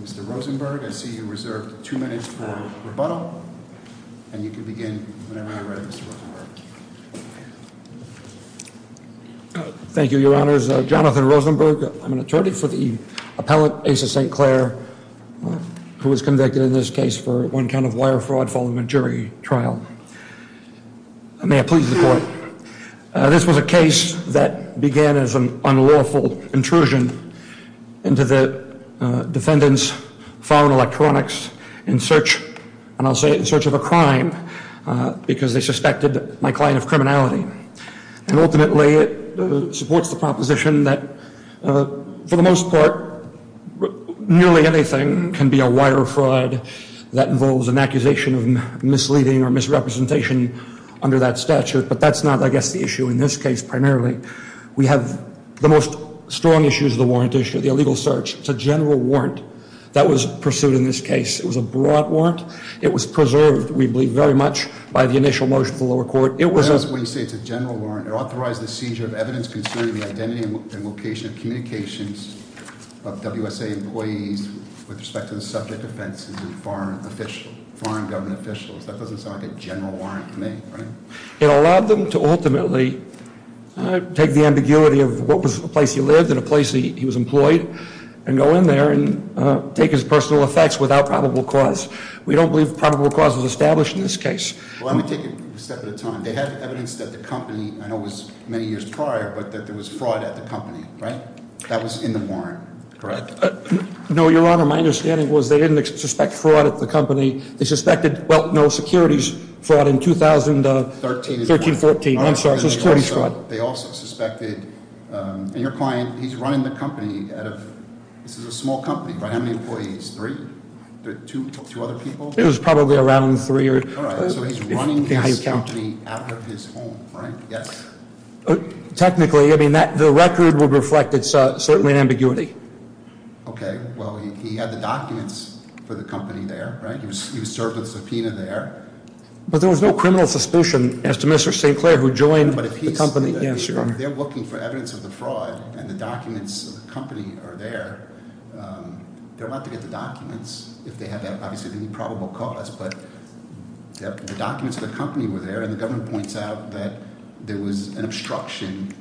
Mr. Rosenberg, I see you reserved two minutes for rebuttal, and you can begin whenever you're ready, Mr. Rosenberg. Thank you, Your Honors. Jonathan Rosenberg, I'm an attorney for the appellate, Asa Saint Clair, who was convicted in this case for one count of wire fraud following a jury trial. May I please report? This was a case that began as an unlawful intrusion into the defendant's phone electronics in search, and I'll say in search of a crime, because they suspected my client of criminality. And ultimately, it supports the proposition that, for the most part, nearly anything can be a wire fraud that involves an accusation of misleading or misrepresentation under that statute. But that's not, I guess, the issue in this case, primarily. We have the most strong issues of the warrant issue, the illegal search. It's a general warrant that was pursued in this case. It was a broad warrant. It was preserved, we believe, very much by the initial motion of the lower court. It was a- When you say it's a general warrant, it authorized the seizure of evidence concerning the identity and location of communications of WSA employees with respect to the subject offenses of foreign government officials. That doesn't sound like a general warrant to me, right? It allowed them to ultimately take the ambiguity of what was the place he lived and the place he was employed, and go in there and take his personal effects without probable cause. We don't believe probable cause was established in this case. Well, let me take it a step at a time. They had evidence that the company, I know it was many years prior, but that there was fraud at the company, right? That was in the warrant, correct? No, Your Honor, my understanding was they didn't suspect fraud at the company. They suspected, well, no, securities fraud in 2013-2014. I'm sorry, securities fraud. They also suspected, and your client, he's running the company out of, this is a small company, right? How many employees? Three? Two other people? It was probably around three. All right, so he's running this company out of his home, right? Yes. Technically, I mean, the record would reflect it's certainly an ambiguity. Okay, well, he had the documents for the company there, right? He was served a subpoena there. But there was no criminal suspicion as to Mr. St. Clair, who joined the company. But if he's, if they're looking for evidence of the fraud, and the documents of the company are there, they're about to get the documents. If they have that, obviously, they need probable cause. But the documents of the company were there, and the government points out that there was an obstruction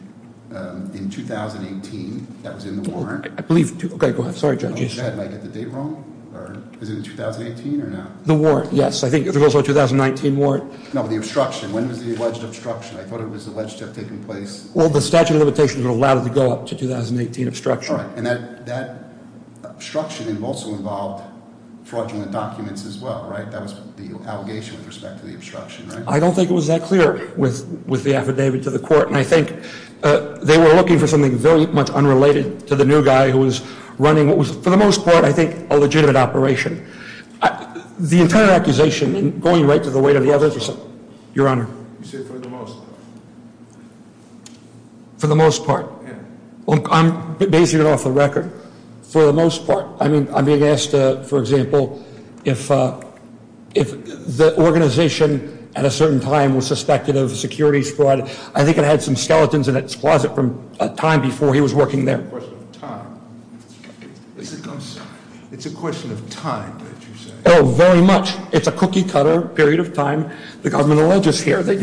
in 2018. That was in the warrant. I believe, okay, go ahead. Sorry, Judge. Did I get the date wrong? Or is it in 2018 or not? The warrant, yes. I think there was also a 2019 warrant. No, the obstruction. When was the alleged obstruction? I thought it was alleged to have taken place. Well, the statute of limitations would allow it to go up to 2018 obstruction. And that obstruction also involved fraudulent documents as well, right? That was the allegation with respect to the obstruction, right? I don't think it was that clear with the affidavit to the court. And I think they were looking for something very much unrelated to the new guy who was running what was, for the most part, I think, a legitimate operation. The entire accusation, and going right to the weight of the evidence, Your Honor. You said for the most part. For the most part. Yeah. I'm basing it off the record. For the most part. I mean, I'm being asked, for example, if the organization at a certain time was suspected of securities fraud, I think it had some skeletons in its closet from a time before he was working there. It's a question of time. It's a question of time that you said. Oh, very much. It's a cookie-cutter period of time. The government will all just hear. But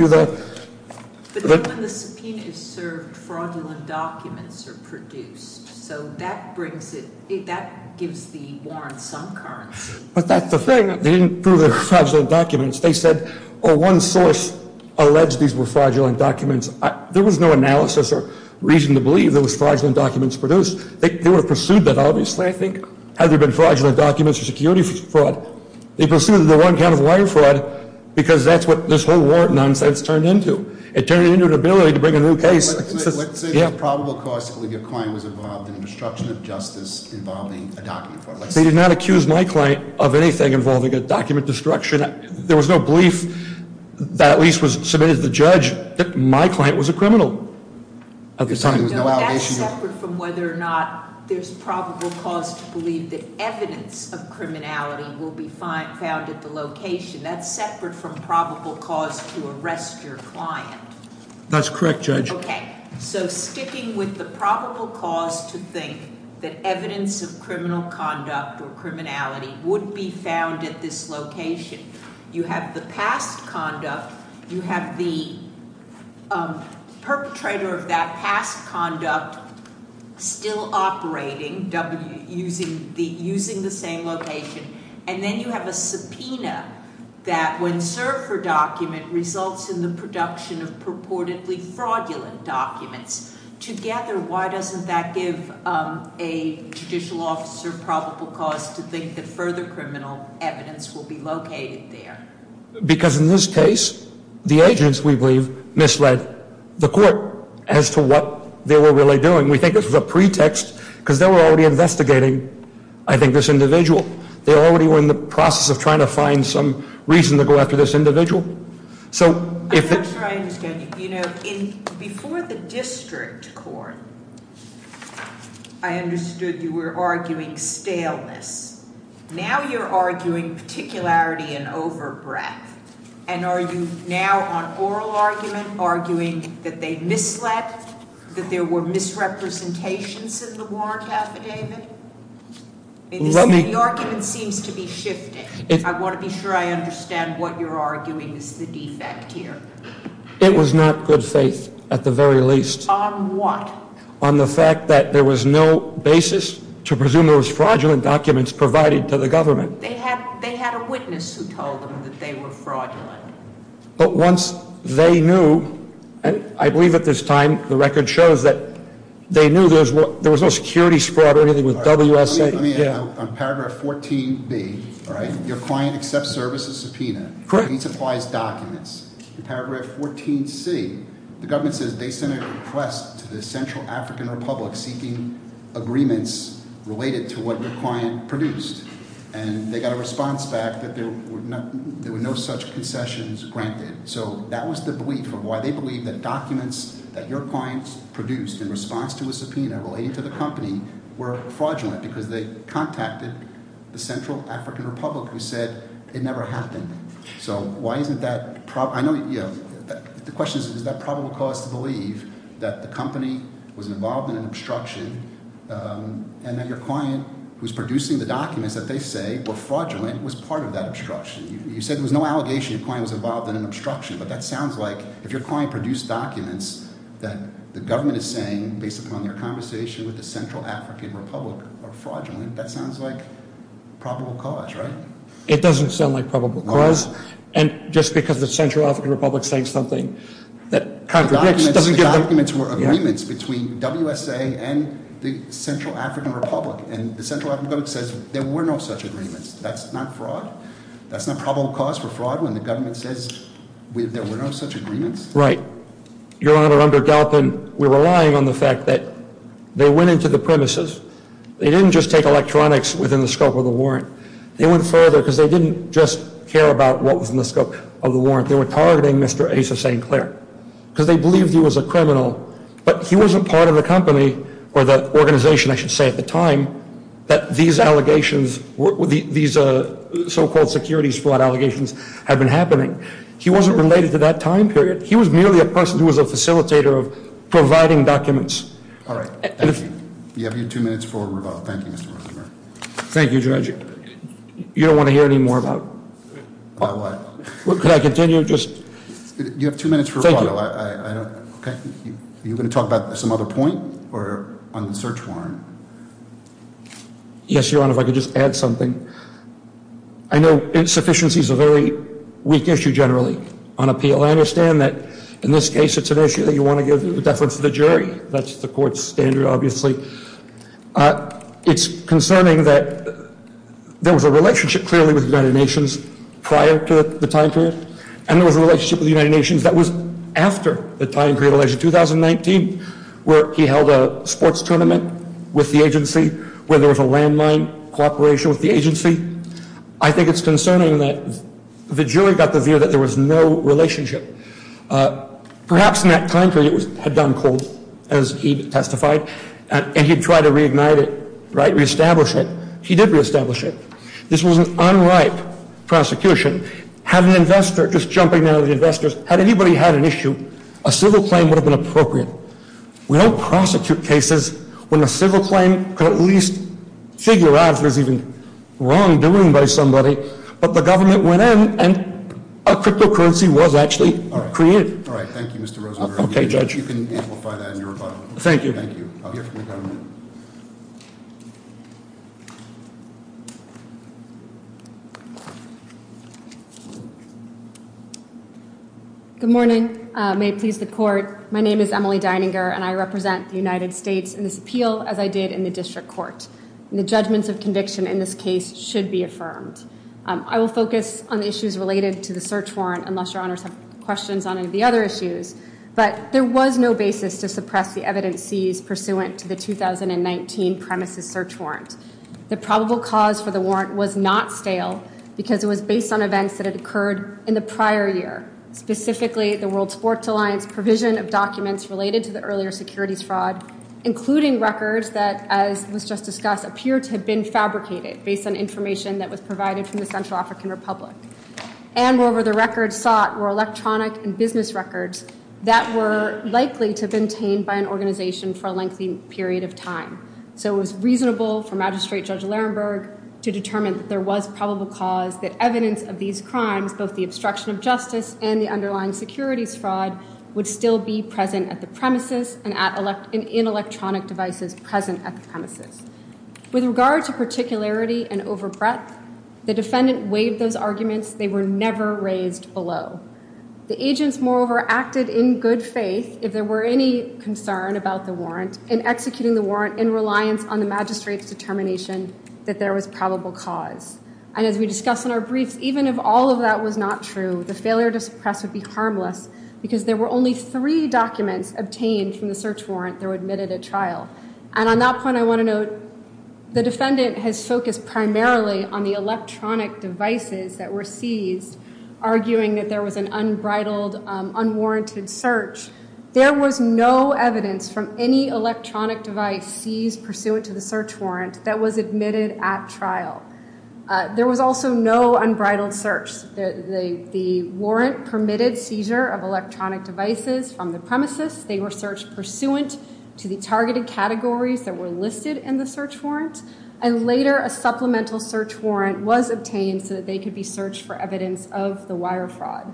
then when the subpoena is served, fraudulent documents are produced. So that brings it, that gives the warrant some currency. But that's the thing. They didn't prove they were fraudulent documents. They said, oh, one source alleged these were fraudulent documents. There was no analysis or reason to believe they were fraudulent documents produced. They would have pursued that, obviously, I think, had there been fraudulent documents or securities fraud. They pursued the one kind of wire fraud because that's what this whole warrant nonsense turned into. It turned it into an ability to bring a new case. Let's say the probable cause to believe your client was involved in the destruction of justice involving a document fraud. They did not accuse my client of anything involving a document destruction. There was no belief that at least was submitted to the judge that my client was a criminal at the time. No, that's separate from whether or not there's probable cause to believe that evidence of criminality will be found at the location. That's separate from probable cause to arrest your client. That's correct, Judge. Okay. So sticking with the probable cause to think that evidence of criminal conduct or criminality would be found at this location. You have the past conduct. You have the perpetrator of that past conduct still operating using the same location. And then you have a subpoena that when served for document results in the production of purportedly fraudulent documents. Together, why doesn't that give a judicial officer probable cause to think that further criminal evidence will be located there? Because in this case, the agents, we believe, misled the court as to what they were really doing. We think this was a pretext because they were already investigating, I think, this individual. They already were in the process of trying to find some reason to go after this individual. I'm not sure I understand you. Before the district court, I understood you were arguing staleness. Now you're arguing particularity and over-breath. And are you now on oral argument arguing that they misled, that there were misrepresentations in the warrant affidavit? The argument seems to be shifting. I want to be sure I understand what you're arguing is the defect here. It was not good faith at the very least. On what? On the fact that there was no basis to presume there was fraudulent documents provided to the government. They had a witness who told them that they were fraudulent. But once they knew, and I believe at this time the record shows that they knew there was no security squad or anything with WSA. On paragraph 14B, your client accepts services subpoena. He supplies documents. In paragraph 14C, the government says they sent a request to the Central African Republic seeking agreements related to what their client produced. And they got a response back that there were no such concessions granted. So that was the belief of why they believed that documents that your client produced in response to a subpoena relating to the company were fraudulent because they contacted the Central African Republic who said it never happened. So why isn't that – I know – the question is, is that probable cause to believe that the company was involved in an obstruction and that your client, who's producing the documents that they say were fraudulent, was part of that obstruction? You said there was no allegation your client was involved in an obstruction. But that sounds like if your client produced documents that the government is saying, based upon their conversation with the Central African Republic, are fraudulent, that sounds like probable cause, right? It doesn't sound like probable cause. And just because the Central African Republic is saying something that contradicts – The documents were agreements between WSA and the Central African Republic. And the Central African Republic says there were no such agreements. That's not fraud? That's not probable cause for fraud when the government says there were no such agreements? Right. Your Honor, under Galpin, we're relying on the fact that they went into the premises. They didn't just take electronics within the scope of the warrant. They went further because they didn't just care about what was in the scope of the warrant. They were targeting Mr. Asa St. Clair because they believed he was a criminal. But he wasn't part of the company or the organization, I should say, at the time that these allegations, these so-called securities fraud allegations had been happening. He wasn't related to that time period. He was merely a person who was a facilitator of providing documents. All right. Thank you. You have your two minutes for rebuttal. Thank you, Mr. Rosenberg. Thank you, Judge. You don't want to hear any more about – About what? Could I continue? You have two minutes for rebuttal. Thank you. Okay. Are you going to talk about some other point or on the search warrant? Yes, Your Honor, if I could just add something. I know insufficiency is a very weak issue generally on appeal. I understand that in this case it's an issue that you want to give deference to the jury. That's the court's standard, obviously. It's concerning that there was a relationship clearly with the United Nations prior to the time period. And there was a relationship with the United Nations that was after the time period of election 2019 where he held a sports tournament with the agency, where there was a landmine cooperation with the agency. I think it's concerning that the jury got the view that there was no relationship. Perhaps in that time period it had gone cold, as he testified, and he had tried to reignite it, right, reestablish it. He did reestablish it. This was an unripe prosecution. Had an investor, just jumping out at the investors, had anybody had an issue, a civil claim would have been appropriate. We don't prosecute cases when a civil claim could at least figure out if it was even wrongdoing by somebody, but the government went in and a cryptocurrency was actually created. All right. Thank you, Mr. Rosenberg. Okay, Judge. You can amplify that in your rebuttal. Thank you. Thank you. I'll hear from the government. Good morning. May it please the court. My name is Emily Dininger, and I represent the United States in this appeal, as I did in the district court. And the judgments of conviction in this case should be affirmed. I will focus on the issues related to the search warrant, unless your honors have questions on any of the other issues, but there was no basis to suppress the evidence seized pursuant to the 2019 premises search warrant. The probable cause for the warrant was not stale because it was based on events that had occurred in the prior year, specifically the World Sports Alliance provision of documents related to the earlier securities fraud, including records that, as was just discussed, appear to have been fabricated based on information that was provided from the Central African Republic. And, moreover, the records sought were electronic and business records that were likely to have been obtained by an organization for a lengthy period of time. So it was reasonable for Magistrate Judge Lerenberg to determine that there was probable cause that evidence of these crimes, both the obstruction of justice and the underlying securities fraud, would still be present at the premises and in electronic devices present at the premises. With regard to particularity and over breadth, the defendant waived those arguments. They were never raised below. The agents, moreover, acted in good faith, if there were any concern about the warrant, in executing the warrant in reliance on the magistrate's determination that there was probable cause. And as we discussed in our briefs, even if all of that was not true, the failure to suppress would be harmless because there were only three documents obtained from the search warrant that were admitted at trial. And on that point, I want to note the defendant has focused primarily on the electronic devices that were seized, arguing that there was an unbridled, unwarranted search. There was no evidence from any electronic device seized pursuant to the search warrant that was admitted at trial. There was also no unbridled search. The warrant permitted seizure of electronic devices from the premises. They were searched pursuant to the targeted categories that were listed in the search warrant, and later a supplemental search warrant was obtained so that they could be searched for evidence of the wire fraud.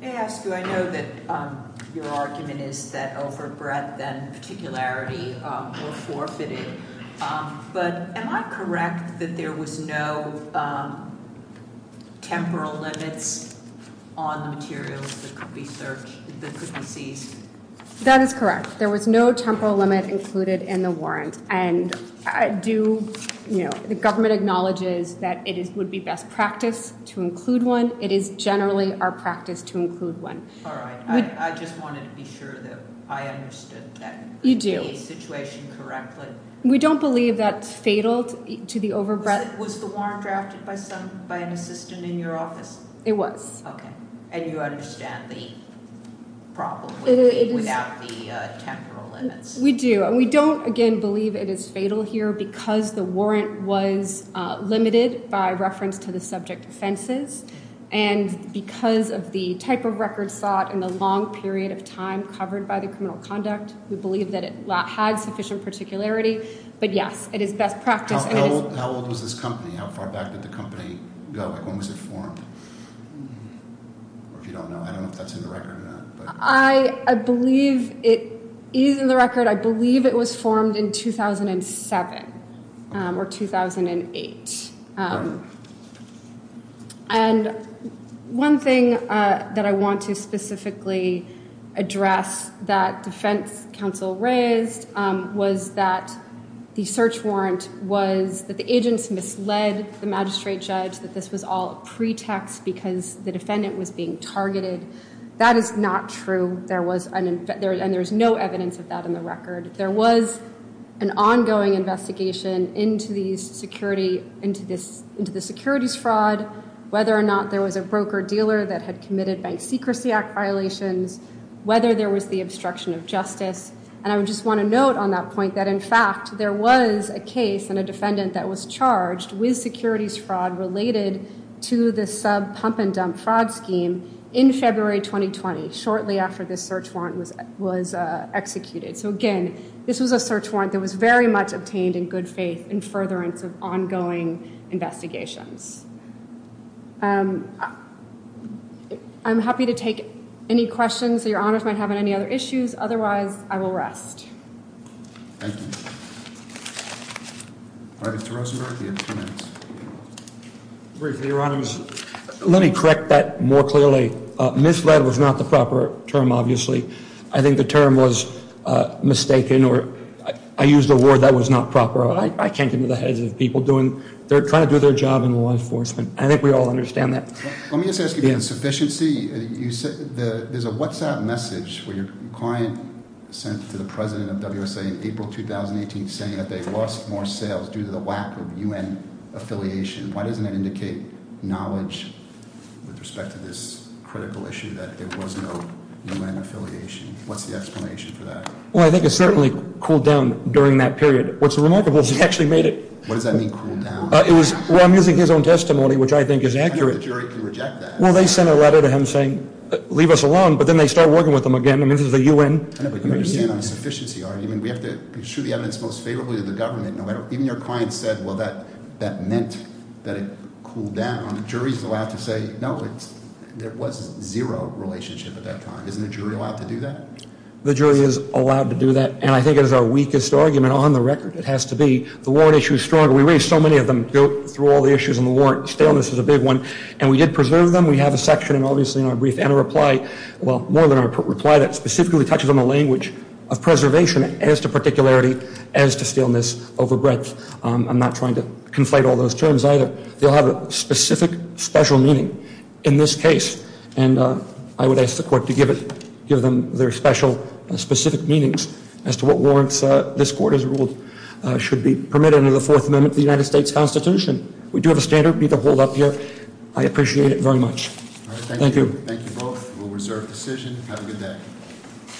May I ask you, I know that your argument is that over breadth and particularity were forfeited, but am I correct that there was no temporal limits on the materials that could be seized? That is correct. There was no temporal limit included in the warrant, and the government acknowledges that it would be best practice to include one. It is generally our practice to include one. All right. I just wanted to be sure that I understood that. You do. The situation correctly? We don't believe that's fatal to the over breadth. Was the warrant drafted by an assistant in your office? It was. Okay. And you understand the problem without the temporal limits? We do, and we don't, again, believe it is fatal here because the warrant was limited by reference to the subject offenses, and because of the type of record sought and the long period of time covered by the criminal conduct, we believe that it had sufficient particularity. But, yes, it is best practice. How old was this company? How far back did the company go? When was it formed? If you don't know, I don't know if that's in the record or not. I believe it is in the record. I believe it was formed in 2007 or 2008. And one thing that I want to specifically address that defense counsel raised was that the search warrant was that the agents misled the magistrate judge, that this was all a pretext because the defendant was being targeted. That is not true, and there's no evidence of that in the record. There was an ongoing investigation into the securities fraud, whether or not there was a broker-dealer that had committed Bank Secrecy Act violations, whether there was the obstruction of justice, and I just want to note on that point that, in fact, there was a case and a defendant that was charged with securities fraud related to the sub-pump-and-dump fraud scheme in February 2020, shortly after this search warrant was executed. So, again, this was a search warrant that was very much obtained in good faith in furtherance of ongoing investigations. I'm happy to take any questions that Your Honors might have on any other issues. Otherwise, I will rest. Thank you. All right, Mr. Rosenberg, you have two minutes. Briefly, Your Honors, let me correct that more clearly. Misled was not the proper term, obviously. I think the term was mistaken, or I used a word that was not proper. I can't get into the heads of people trying to do their job in law enforcement. I think we all understand that. Let me just ask you about insufficiency. There's a WhatsApp message where your client sent to the president of WSA in April 2018 saying that they lost more sales due to the lack of U.N. affiliation. Why doesn't that indicate knowledge with respect to this critical issue that there was no U.N. affiliation? What's the explanation for that? Well, I think it certainly cooled down during that period. What's remarkable is it actually made it. What does that mean, cooled down? Well, I'm using his own testimony, which I think is accurate. The jury can reject that. Well, they sent a letter to him saying, leave us alone, but then they started working with him again. I mean, this is the U.N. I know, but you understand the insufficiency argument. We have to shoot the evidence most favorably to the government. Even your client said, well, that meant that it cooled down. The jury's allowed to say, no, there was zero relationship at that time. Isn't the jury allowed to do that? The jury is allowed to do that, and I think it is our weakest argument on the record. It has to be. The warrant issue is stronger. We raised so many of them through all the issues in the warrant. Staleness is a big one, and we did preserve them. We have a section, and obviously in our brief, and a reply, well, more than a reply, that specifically touches on the language of preservation as to particularity as to staleness over breadth. I'm not trying to conflate all those terms either. They all have a specific, special meaning in this case, and I would ask the court to give them their special, specific meanings as to what warrants this court has ruled should be permitted under the Fourth Amendment of the United States Constitution. We do have a standard we need to hold up here. I appreciate it very much. Thank you. Thank you both. We'll reserve decision. Have a good day.